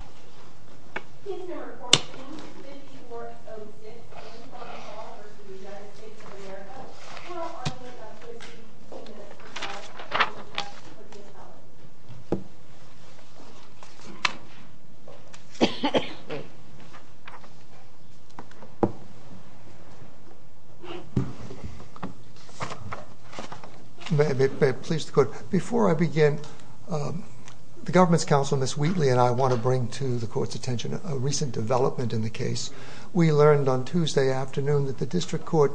of America. How are you going to answer the two-minute question about the impact of the appellate? Before I begin, the government's counsel, Ms. Wheatley, and I want to bring to the court's attention a recent development in the case. We learned on Tuesday afternoon that the district court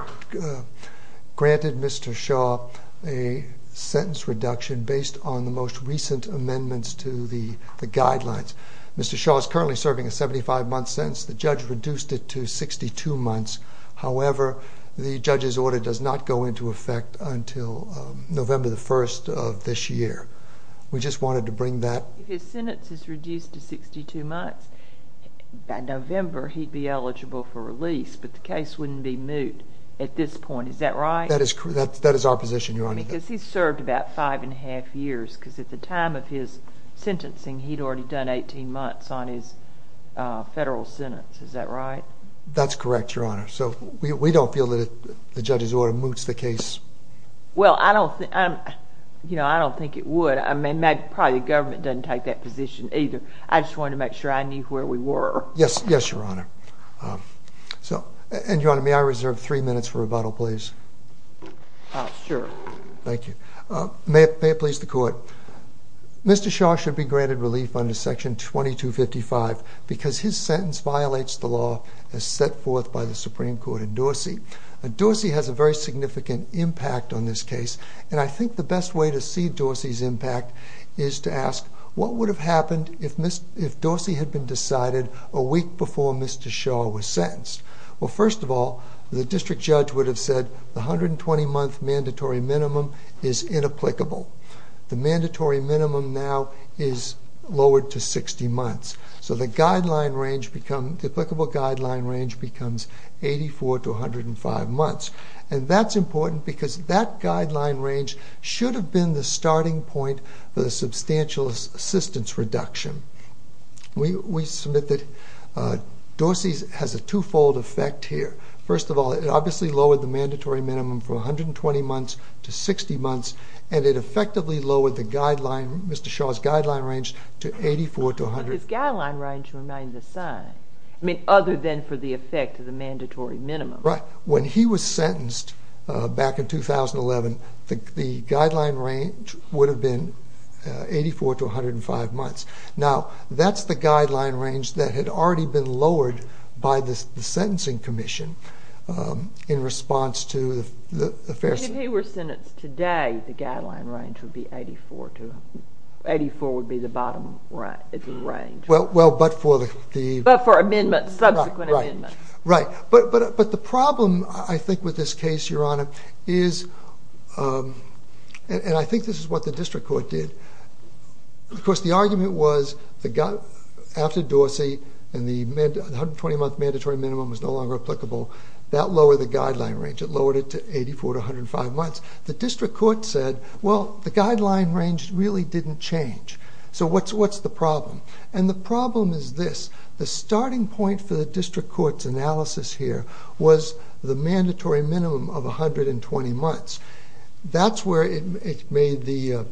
granted Mr. Shaw a sentence reduction based on the most recent amendments to the guidelines. Mr. Shaw is currently serving a 75-month sentence. The judge reduced it to 62 months. However, the judge's order does not go into effect until November 1st of this year. We just wanted to bring that... If his sentence is reduced to 62 months, by November he'd be eligible for release, but the case wouldn't be moot at this point, is that right? That is our position, Your Honor. Because he's served about five and a half years, because at the time of his sentencing he'd already done 18 months on his federal sentence, is that right? That's correct, Your Honor. So we don't feel that the judge's order moots the case. Well, I don't think it would. I mean, probably the government doesn't take that position either. I just wanted to make sure I knew where we were. Yes, Your Honor. And Your Honor, may I reserve three minutes for rebuttal, please? Sure. Thank you. May it please the Court, Mr. Shaw should be granted relief under Section 2255 because his sentence violates the law as set forth by the Supreme Court in Dorsey. Dorsey has a very significant impact on this case, and I think the best way to see Dorsey's impact is to ask, what would have happened if Dorsey had been decided a week before Mr. Shaw was sentenced? Well, first of all, the district judge would have said the 120-month mandatory minimum is inapplicable. The mandatory minimum now is lowered to 60 months. So the applicable guideline range becomes 84 to 105 months. And that's important because that guideline range should have been the starting point for the substantial assistance reduction. We submit that Dorsey has a two-fold effect here. First of all, it obviously lowered the mandatory minimum from 120 months to 60 months, and it effectively lowered the guideline, Mr. Shaw's guideline range, to 84 to 105 months. But his guideline range reminds us, I mean, other than for the effect of the mandatory minimum. Right. When he was sentenced back in 2011, the guideline range would have been 84 to 105 months. Now, that's the guideline range that had already been lowered by the Sentencing Commission in response to the fair... If he were sentenced today, the guideline range would be 84 to... 84 would be the bottom range. Well, but for the... But for amendments, subsequent amendments. Right. But the problem, I think, with this case, Your Honor, is, and I think this is what the district court did, of course, the argument was, after Dorsey, and the 120-month mandatory minimum was no longer applicable, that lowered the guideline range. It lowered it to 84 to 105 months. The district court said, well, the guideline range really didn't change. So what's the problem? And the problem is this. The starting point for the district court's analysis here was the mandatory minimum of 120 months. That's where it made the...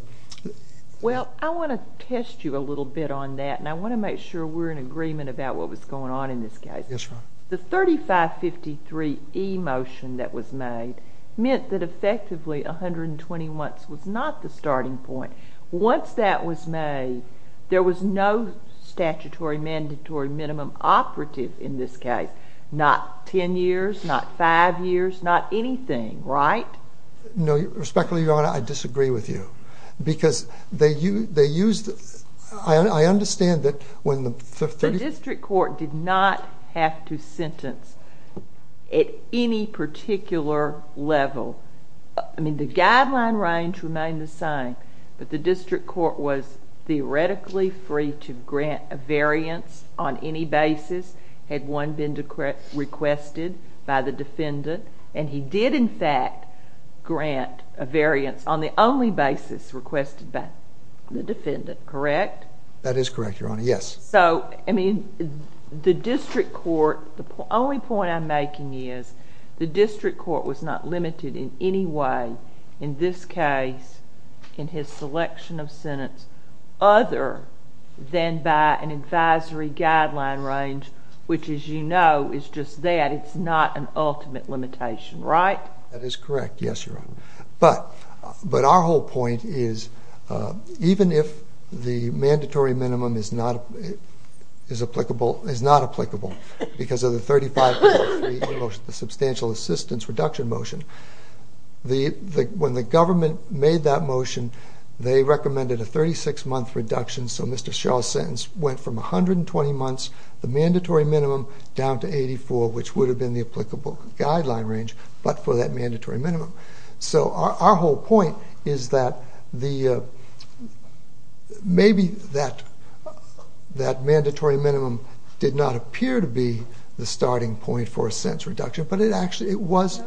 Well, I want to test you a little bit on that, and I want to make sure we're in agreement about what was going on in this case. Yes, Your Honor. The 3553E motion that was made meant that effectively 120 months was not the starting point. Once that was made, there was no statutory mandatory minimum operative in this case. Not 10 years, not 5 years, not anything, right? No, respectfully, Your Honor, I disagree with you. Because they used... I understand that when the... The district court did not have to sentence at any particular level. I mean, the guideline range remained the same, but the district court was theoretically free to grant a variance on any basis had one been requested by the defendant, and he did, in fact, grant a variance on the only basis requested by the defendant, correct? That is correct, Your Honor, yes. So, I mean, the district court, the only point I'm making is the district court was not limited in any way in this case in his selection of sentence other than by an advisory guideline range, which as you know is just that. It's not an ultimate limitation, right? That is correct, yes, Your Honor. But our whole point is even if the mandatory minimum is not applicable because of the 3553E motion, the substantial assistance reduction motion, when the government made that motion, they recommended a 36-month reduction, so Mr. Shaw's sentence went from 120 months, the mandatory minimum, down to 84, which would have been the applicable guideline range, but for that mandatory minimum. So our whole point is that maybe that mandatory minimum did not appear to be the starting point for a sentence reduction, but it actually was...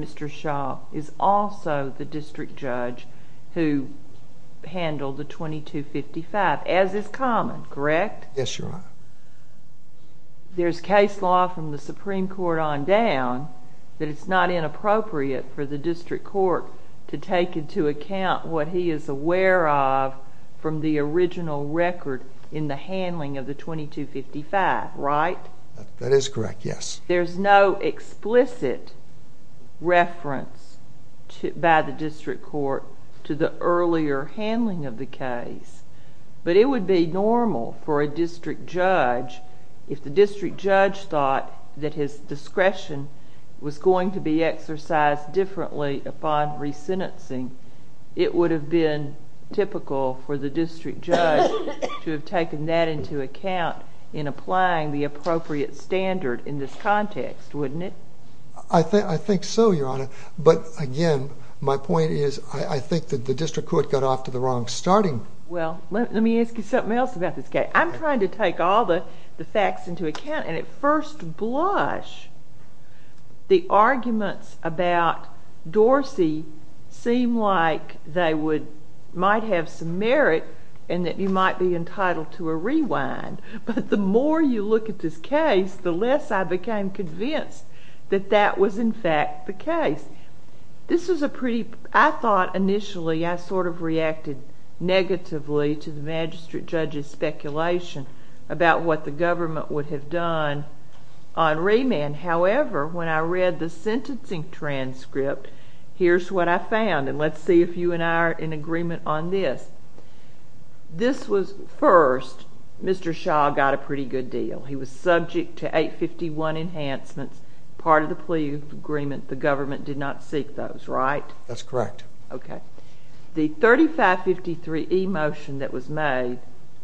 Mr. Shaw is also the district judge who handled the 2255, as is common, correct? Yes, Your Honor. There's case law from the Supreme Court on down that it's not inappropriate for the district court to take into account what he is aware of from the original record in the handling of the 2255, right? That is correct, yes. There's no explicit reference by the district court to the earlier handling of the case, but it would be normal for a district judge, if the district judge thought that his discretion was going to be exercised differently upon resentencing, it would have been typical for the district judge to have taken that into account in applying the appropriate standard in this context, wouldn't it? I think so, Your Honor, but again, my point is, I think that the district court got off to the wrong starting. Well, let me ask you something else about this case. I'm trying to take all the facts into account, and at first blush, the arguments about might have some merit, and that you might be entitled to a rewind, but the more you look at this case, the less I became convinced that that was in fact the case. This was a pretty, I thought initially, I sort of reacted negatively to the magistrate judge's speculation about what the government would have done on remand. However, when I read the sentencing transcript, here's what I found, and let's see if you and I are in agreement on this. This was first, Mr. Shaw got a pretty good deal. He was subject to 851 enhancements, part of the plea agreement. The government did not seek those, right? That's correct. The 3553 e-motion that was made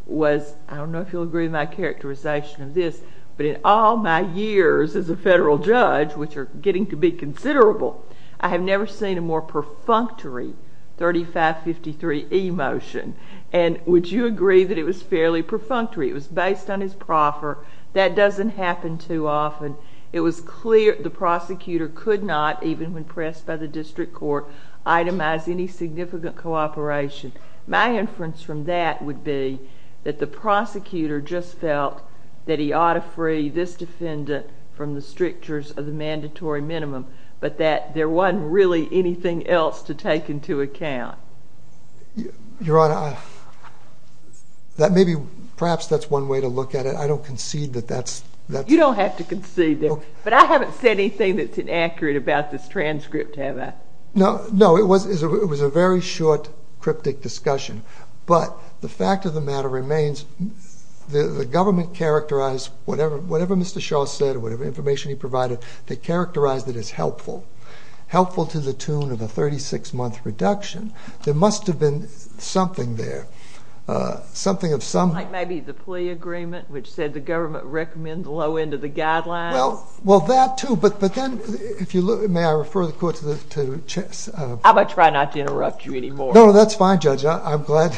was, I don't know if you'll agree with my characterization of this, but in all my years as a federal judge, which are getting to be considerable, I have never seen a more perfunctory 3553 e-motion, and would you agree that it was fairly perfunctory? It was based on his proffer. That doesn't happen too often. It was clear the prosecutor could not, even when pressed by the district court, itemize any significant cooperation. My inference from that would be that the prosecutor just felt that he ought to free this defendant from the strictures of the mandatory minimum, but that there wasn't really anything else to take into account. Your Honor, perhaps that's one way to look at it. I don't concede that that's... You don't have to concede that, but I haven't said anything that's inaccurate about this transcript, have I? No, it was a very short cryptic discussion, but the fact of the matter remains, the government characterized whatever Mr. Shaw said, whatever information he provided, they characterized it as helpful, helpful to the tune of a 36-month reduction. There must have been something there, something of some... Like maybe the plea agreement, which said the government recommends the low end of the guidelines? Well, that too, but then, may I refer the court to... I'm going to try not to interrupt you anymore. No, that's fine, Judge. I'm glad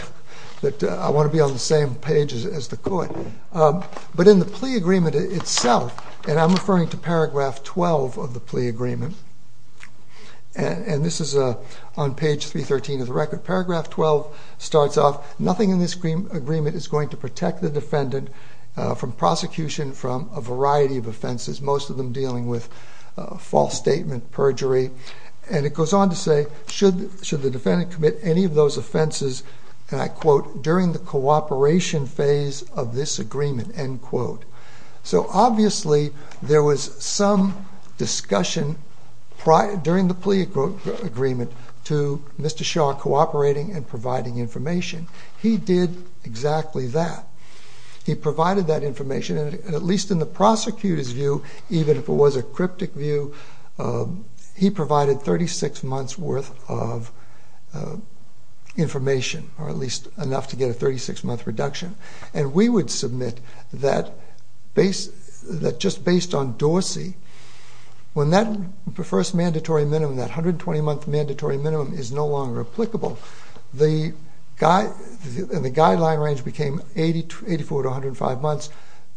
that I want to be on the same page as the court. But in the plea agreement itself, and I'm referring to paragraph 12 of the plea agreement, and this is on page 313 of the record. Paragraph 12 starts off, nothing in this agreement is going to protect the defendant from prosecution from a variety of offenses, most of them dealing with false statement, perjury. And it goes on to say, should the defendant commit any of those offenses, and I quote, during the cooperation phase of this agreement, end quote. So obviously, there was some discussion during the plea agreement to Mr. Shaw cooperating and providing information. He did exactly that. He provided that information, and at least in the prosecutor's view, even if it was a cryptic view, he provided 36 months worth of information, or at least enough to get a 36 month reduction. And we would submit that just based on Dorsey, when that first mandatory minimum, that 120 month mandatory minimum is no longer applicable, the guideline range became 84 to 105 months.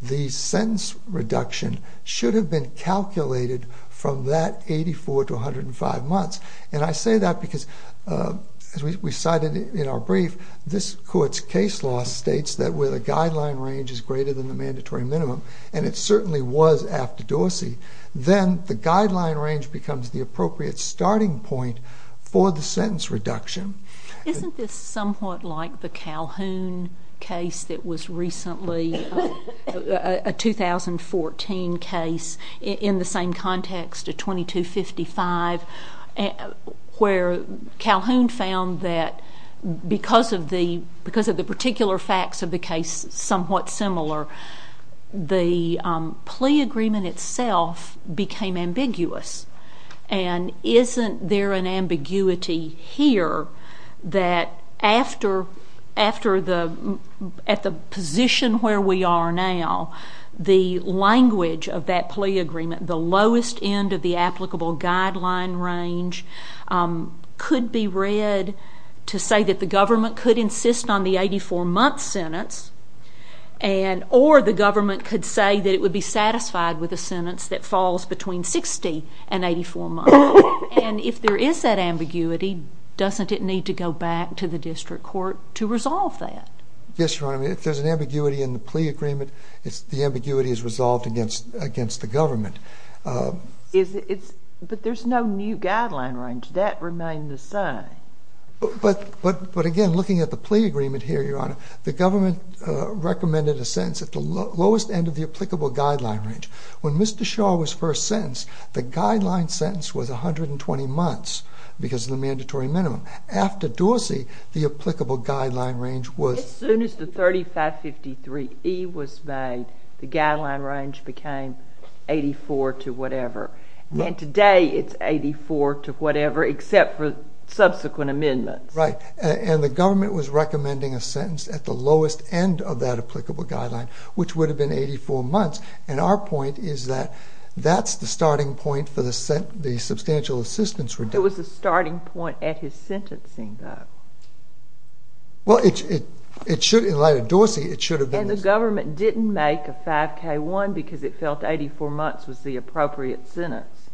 The sentence reduction should have been calculated from that 84 to 105 months. And I say that because, as we cited in our brief, this court's case law states that where the guideline range is greater than the mandatory minimum, and it certainly was after Dorsey, then the guideline range becomes the appropriate starting point for the sentence reduction. Isn't this somewhat like the Calhoun case that was recently, a 2014 case, in the same context, a 2255, where Calhoun found that because of the particular facts of the case somewhat similar, the plea agreement itself became ambiguous. And isn't there an ambiguity here that at the position where we are now, the language of that plea agreement, the lowest end of the applicable guideline range, could be read to say that the government could insist on the 84 month sentence, or the government could say that it would be satisfied with a sentence that falls between 60 and 84 months. And if there is that ambiguity, doesn't it need to go back to the district court to resolve that? Yes, Your Honor. I mean, if there's an ambiguity in the plea agreement, the ambiguity is resolved against the government. But there's no new guideline range. That remained the same. But again, looking at the plea agreement here, Your Honor, the government recommended a sentence at the lowest end of the applicable guideline range. When Mr. Shaw was first sentenced, the guideline sentence was 120 months, because of the mandatory minimum. After Dorsey, the applicable guideline range was... As soon as the 3553E was made, the guideline range became 84 to whatever. And today, it's 84 to whatever, except for subsequent amendments. Right. And the government was recommending a sentence at the lowest end of that applicable guideline, which would have been 84 months. And our point is that that's the starting point for the substantial assistance reduction. It was the starting point at his sentencing, though. Well, in light of Dorsey, it should have been... And the government didn't make a 5K1 because it felt 84 months was the appropriate sentence.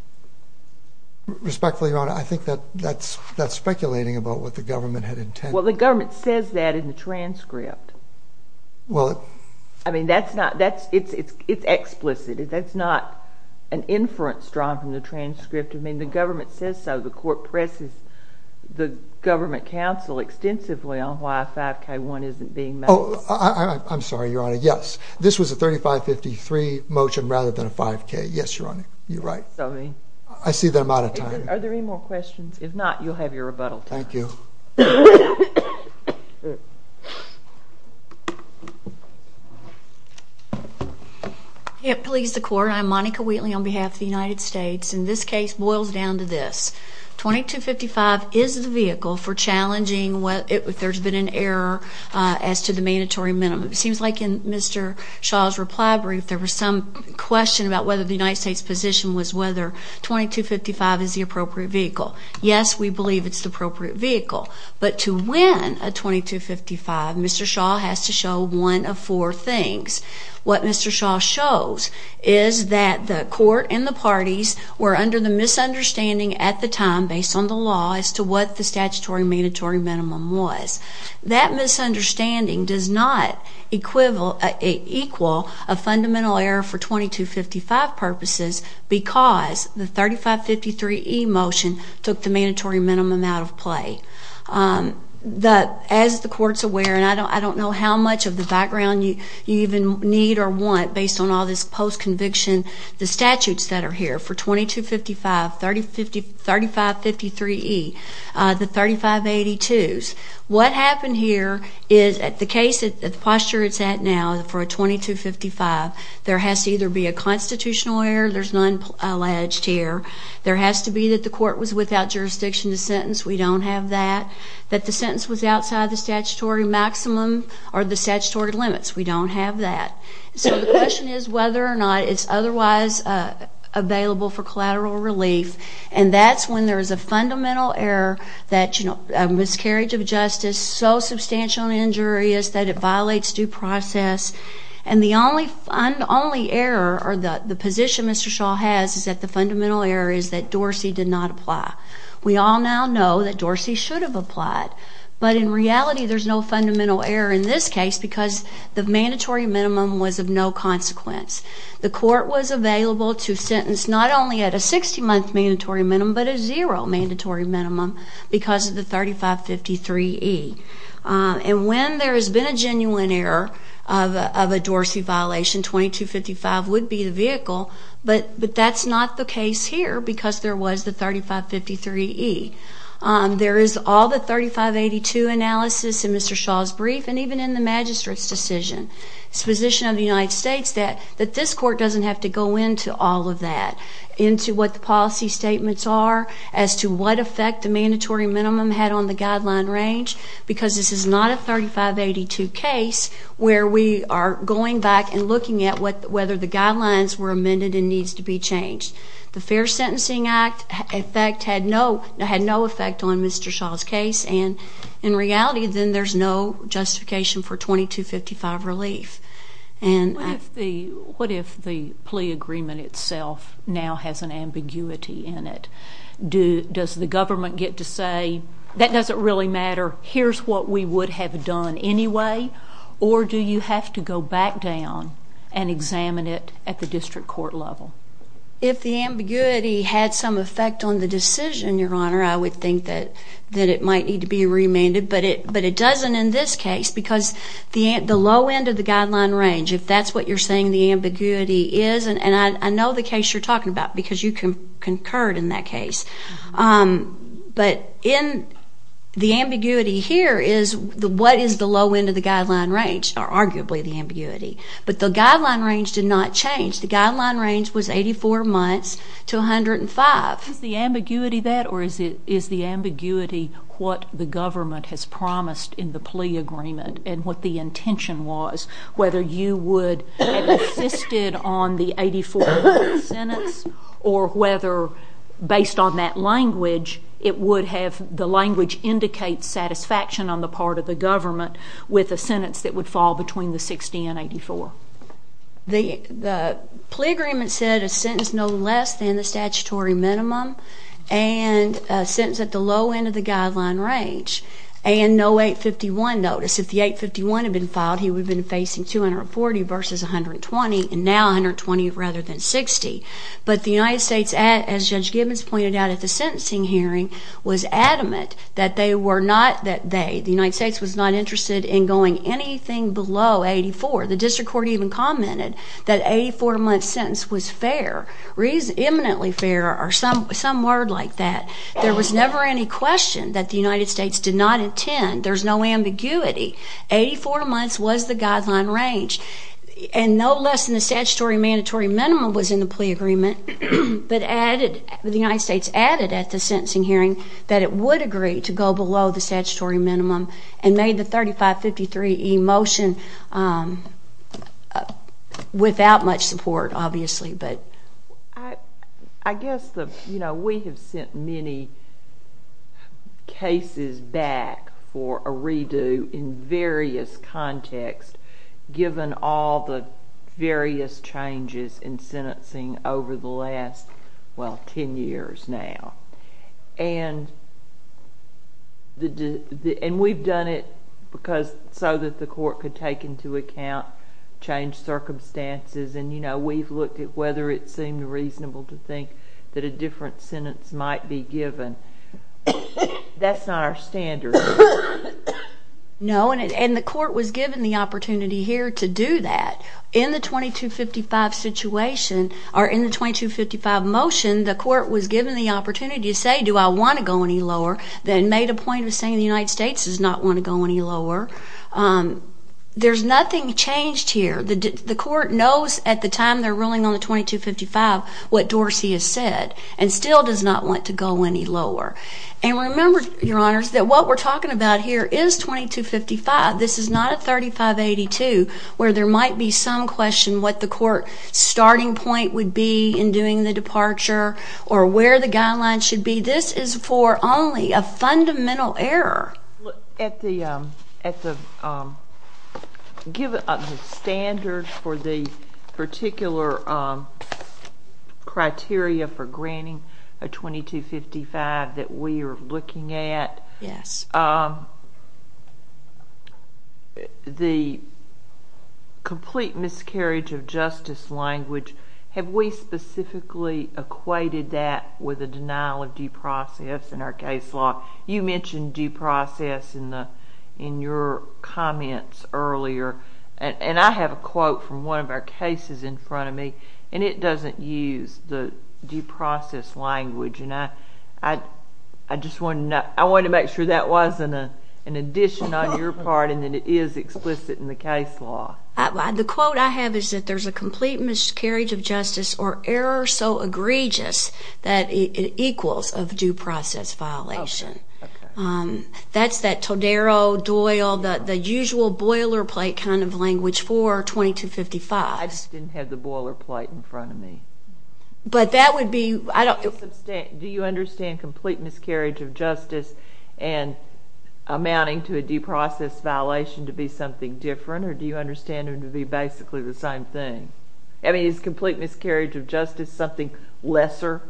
Respectfully, Your Honor, I think that's speculating about what the government had intended. Well, the government says that in the transcript. I mean, it's explicit. That's not an inference drawn from the transcript. I mean, the government says so. The court presses the government counsel extensively on why a 5K1 isn't being made. Oh, I'm sorry, Your Honor. Yes. This was a 3553 motion rather than a 5K. Yes, Your Honor. You're right. I see the amount of time. Are there any more questions? If not, you'll have your rebuttal time. Thank you. Police, the court. I'm Monica Wheatley on behalf of the United States. And this case boils down to this. 2255 is the vehicle for challenging if there's been an error as to the mandatory minimum. It seems like in Mr. Shaw's reply brief there was some question about whether the United States position was whether 2255 is the appropriate vehicle. Yes, we believe it's the appropriate vehicle. But to win a 2255, Mr. Shaw has to show one of four things. What Mr. Shaw shows is that the court and the parties were under the misunderstanding at the time based on the law as to what the statutory mandatory minimum was. That misunderstanding does not equal a fundamental error for 2255 purposes because the 3553E motion took the mandatory minimum out of play. As the court's aware, and I don't know how much of the background you even need or want based on all this post-conviction, the statutes that are here for 2255, 3553E, the 3582s, what happened here is the case, the posture it's at now for a 2255, there has to either be a constitutional error, there's none alleged here, there has to be that the court was without jurisdiction to sentence, we don't have that, that the sentence was outside the statutory maximum or the statutory limits, we don't have that. So the question is whether or not it's otherwise available for collateral relief, and that's when there's a fundamental error that, you know, a miscarriage of justice, so substantial an injury is that it violates due process, and the only error or the position Mr. Shaw has is that the fundamental error is that Dorsey did not apply. We all now know that Dorsey should have applied, but in reality there's no fundamental error in this case because the mandatory minimum was of no consequence. The court was available to sentence not only at a 60-month mandatory minimum, but a zero mandatory minimum because of the 3553E. And when there has been a genuine error of a Dorsey violation, 2255 would be the vehicle, but that's not the case here because there was the 3553E. There is all the 3582 analysis in Mr. Shaw's brief and even in the magistrate's decision, his position of the United States that this court doesn't have to go into all of that, into what the policy statements are as to what effect the mandatory minimum had on the guideline range because this is not a 3582 case where we are going back and looking at whether the guidelines were amended and needs to be changed. The Fair Sentencing Act, in fact, had no effect on Mr. Shaw's case, and in reality then there's no justification for 2255 relief. What if the plea agreement itself now has an ambiguity in it? Does the government get to say, that doesn't really matter, here's what we would have done anyway, or do you have to go back down and examine it at the district court level? If the ambiguity had some effect on the decision, Your Honor, I would think that it might need to be remanded, but it doesn't in this case because the low end of the guideline range, if that's what you're saying the ambiguity is, and I know the case you're talking about because you concurred in that case, but the ambiguity here is what is the low end of the guideline range, or arguably the ambiguity, but the guideline range did not change. The guideline range was 84 months to 105. Is the ambiguity that, or is the ambiguity what the government has promised in the plea agreement and what the intention was, whether you would have insisted on the 84-month sentence, or whether, based on that language, the language indicates satisfaction on the part of the government with a sentence that would fall between the 60 and 84? The plea agreement said a sentence no less than the statutory minimum and a sentence at the low end of the guideline range and no 851 notice. If the 851 had been filed, he would have been facing 240 versus 120, and now 120 rather than 60. But the United States, as Judge Gibbons pointed out at the sentencing hearing, was adamant that they were not, that they, the United States, was not interested in going anything below 84. The district court even commented that 84-month sentence was fair, eminently fair, or some word like that. There was never any question that the United States did not intend. There's no ambiguity. Eighty-four months was the guideline range, and no less than the statutory mandatory minimum was in the plea agreement, but added, the United States added at the sentencing hearing that it would agree to go below the statutory minimum and made the 3553E motion without much support, obviously, but. I guess the, you know, we have sent many cases back for a redo in various contexts given all the various changes in sentencing over the last, well, 10 years now. And we've done it because, so that the court could take into account changed circumstances, and, you know, we've looked at whether it seemed reasonable to think that a different sentence might be given. That's not our standard. No, and the court was given the opportunity here to do that. In the 2255 situation, or in the 2255 motion, the court was given the opportunity to say, do I want to go any lower, then made a point of saying the United States does not want to go any lower. There's nothing changed here. The court knows at the time they're ruling on the 2255 what Dorsey has said and still does not want to go any lower. And remember, Your Honors, that what we're talking about here is 2255. This is not a 3582 where there might be some question what the court starting point would be in doing the departure or where the guidelines should be. This is for only a fundamental error. At the standard for the particular criteria for granting a 2255 that we are looking at, the complete miscarriage of justice language, have we specifically equated that with a denial of due process in our case law? You mentioned due process in your comments earlier, and I have a quote from one of our cases in front of me, and it doesn't use the due process language. And I just wanted to make sure that wasn't an addition on your part and that it is explicit in the case law. The quote I have is that there's a complete miscarriage of justice or error so egregious that it equals of due process violation. That's that Todaro, Doyle, the usual boilerplate kind of language for 2255. I just didn't have the boilerplate in front of me. But that would be – Do you understand complete miscarriage of justice and amounting to a due process violation to be something different, or do you understand it to be basically the same thing? I mean, is complete miscarriage of justice something lesser?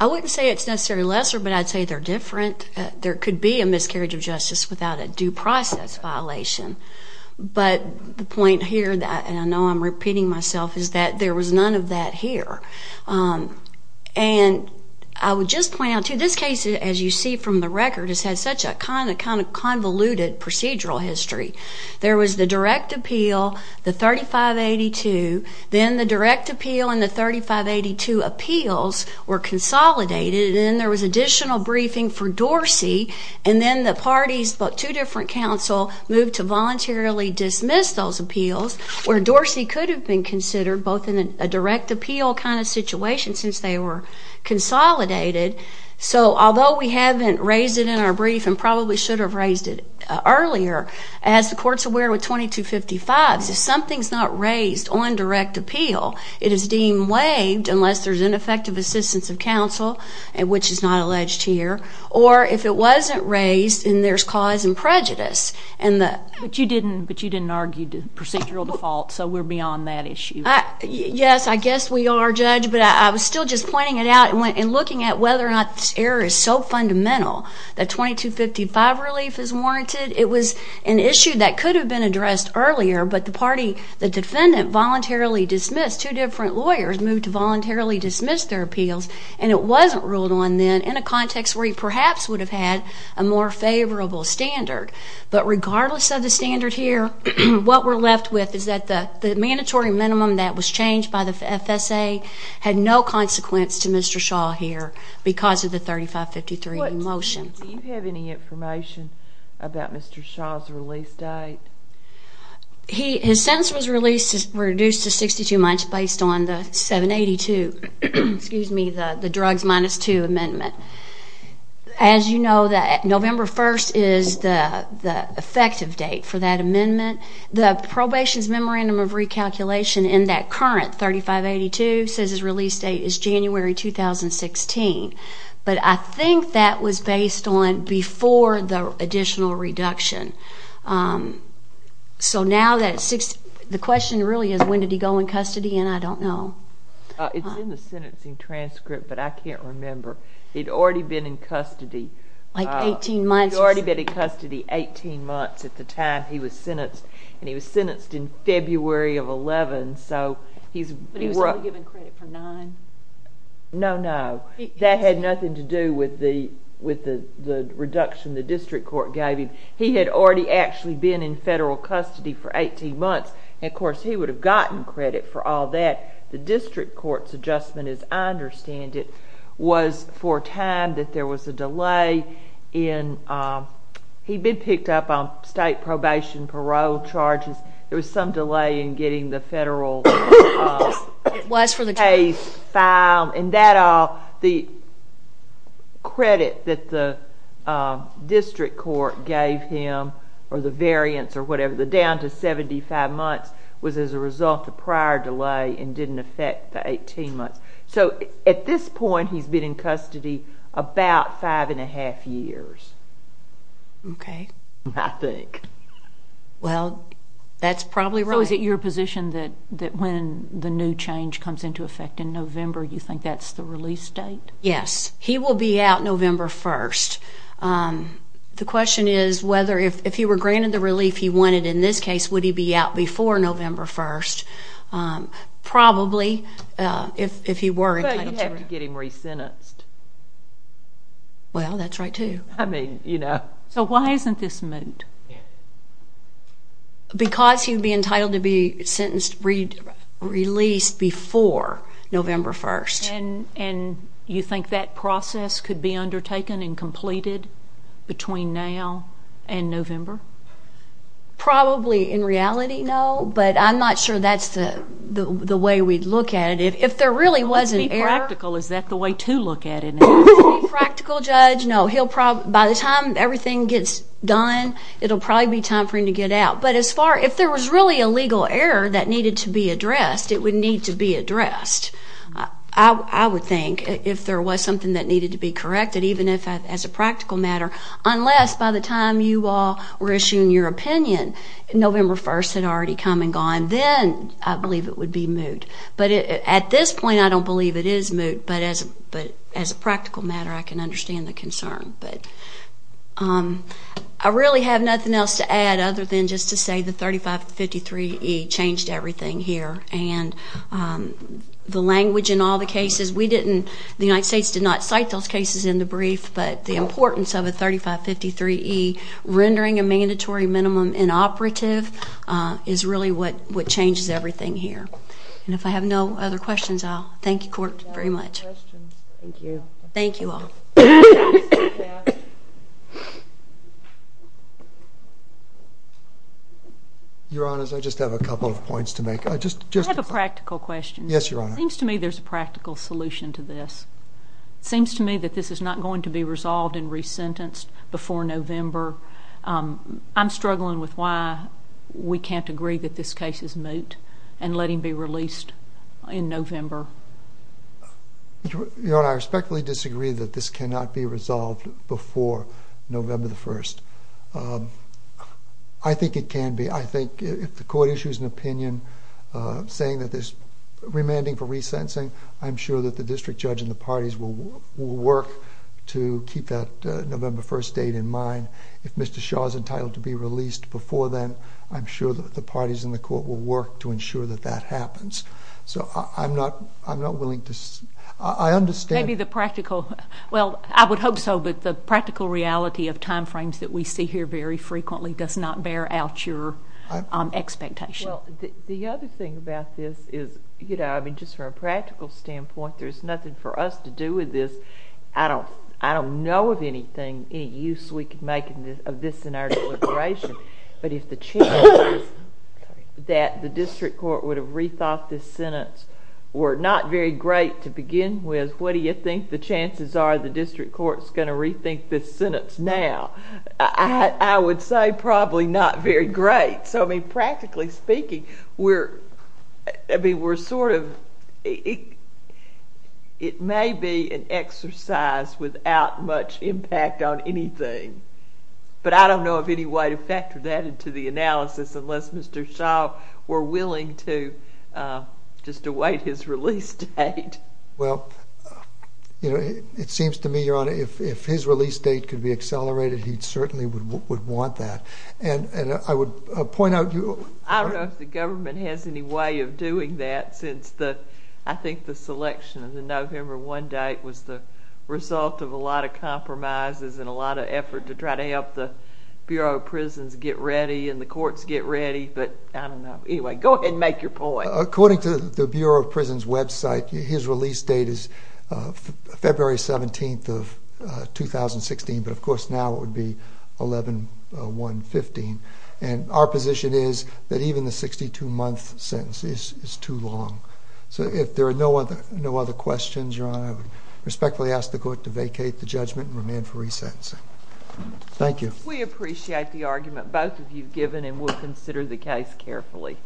I wouldn't say it's necessarily lesser, but I'd say they're different. There could be a miscarriage of justice without a due process violation. But the point here, and I know I'm repeating myself, is that there was none of that here. And I would just point out, too, this case, as you see from the record, has had such a kind of convoluted procedural history. There was the direct appeal, the 3582. Then the direct appeal and the 3582 appeals were consolidated, and then there was additional briefing for Dorsey, and then the parties, but two different counsel, moved to voluntarily dismiss those appeals, where Dorsey could have been considered both in a direct appeal kind of situation since they were consolidated. So although we haven't raised it in our brief and probably should have raised it earlier, as the court's aware with 2255s, if something's not raised on direct appeal, it is deemed waived unless there's ineffective assistance of counsel, which is not alleged here, or if it wasn't raised and there's cause and prejudice. But you didn't argue procedural default, so we're beyond that issue. Yes, I guess we are, Judge, but I was still just pointing it out and looking at whether or not this error is so fundamental that 2255 relief is warranted. It was an issue that could have been addressed earlier, but the defendant voluntarily dismissed. Two different lawyers moved to voluntarily dismiss their appeals, and it wasn't ruled on then in a context where he perhaps would have had a more favorable standard. But regardless of the standard here, what we're left with is that the mandatory minimum that was changed by the FSA had no consequence to Mr. Shaw here because of the 3553 motion. Do you have any information about Mr. Shaw's release date? His sentence was reduced to 62 months based on the 782, excuse me, the drugs minus two amendment. As you know, November 1st is the effective date for that amendment. The probation's memorandum of recalculation in that current 3582 says his release date is January 2016, but I think that was based on before the additional reduction. So now the question really is when did he go in custody, and I don't know. It's in the sentencing transcript, but I can't remember. He'd already been in custody. Like 18 months. He'd already been in custody 18 months at the time he was sentenced, and he was sentenced in February of 2011. But he was only given credit for nine? No, no. That had nothing to do with the reduction the district court gave him. He had already actually been in federal custody for 18 months, and, of course, he would have gotten credit for all that. The district court's adjustment, as I understand it, was for a time that there was a delay in he'd been picked up on state probation parole charges. There was some delay in getting the federal case filed, and the credit that the district court gave him or the variance or whatever, the down to 75 months, was as a result of prior delay and didn't affect the 18 months. So at this point, he's been in custody about five and a half years. Okay. I think. Well, that's probably right. So is it your position that when the new change comes into effect in November, you think that's the release date? Yes. He will be out November 1st. The question is whether if he were granted the relief he wanted in this case, would he be out before November 1st? Probably, if he were entitled to it. But you'd have to get him re-sentenced. Well, that's right, too. I mean, you know. So why isn't this moot? Because he'd be entitled to be released before November 1st. And you think that process could be undertaken and completed between now and November? Probably. In reality, no. But I'm not sure that's the way we'd look at it. If there really was an error. Well, let's be practical. Is that the way to look at it? Let's be practical, Judge. No. By the time everything gets done, it will probably be time for him to get out. But if there was really a legal error that needed to be addressed, it would need to be addressed, I would think, if there was something that needed to be corrected, even as a practical matter, unless by the time you all were issuing your opinion, November 1st had already come and gone. Then I believe it would be moot. But at this point, I don't believe it is moot. But as a practical matter, I can understand the concern. But I really have nothing else to add other than just to say the 3553E changed everything here. And the language in all the cases, we didn't, the United States did not cite those cases in the brief. But the importance of a 3553E, rendering a mandatory minimum inoperative, is really what changes everything here. And if I have no other questions, I'll thank the Court very much. Thank you. Thank you all. Your Honors, I just have a couple of points to make. I have a practical question. Yes, Your Honor. It seems to me there's a practical solution to this. It seems to me that this is not going to be resolved and resentenced before November. I'm struggling with why we can't agree that this case is moot and let him be released in November. Your Honor, I respectfully disagree that this cannot be resolved before November 1st. I think it can be. I think if the Court issues an opinion saying that there's remanding for resentencing, I'm sure that the district judge and the parties will work to keep that November 1st date in mind. If Mr. Shaw is entitled to be released before then, I'm sure that the parties in the Court will work to ensure that that happens. So I'm not willing to, I understand. Maybe the practical, well, I would hope so, but the practical reality of timeframes that we see here very frequently does not bear out your expectation. Well, the other thing about this is, you know, I mean, just from a practical standpoint, there's nothing for us to do with this. I don't know of anything, any use we could make of this in our deliberation. But if the chances that the district court would have rethought this sentence were not very great to begin with, what do you think the chances are the district court is going to rethink this sentence now? I would say probably not very great. So, I mean, practically speaking, we're, I mean, we're sort of, it may be an exercise without much impact on anything. But I don't know of any way to factor that into the analysis unless Mr. Shaw were willing to just await his release date. Well, you know, it seems to me, Your Honor, if his release date could be accelerated, he certainly would want that. And I would point out to you. I don't know if the government has any way of doing that since the, I think the selection of the November 1 date was the result of a lot of compromises and a lot of effort to try to help the Bureau of Prisons get ready and the courts get ready. But I don't know. Anyway, go ahead and make your point. According to the Bureau of Prisons website, his release date is February 17th of 2016. But, of course, now it would be 11-1-15. And our position is that even the 62-month sentence is too long. So if there are no other questions, Your Honor, I respectfully ask the court to vacate the judgment and remain for resentencing. Thank you. We appreciate the argument both of you have given, and we'll consider the case carefully.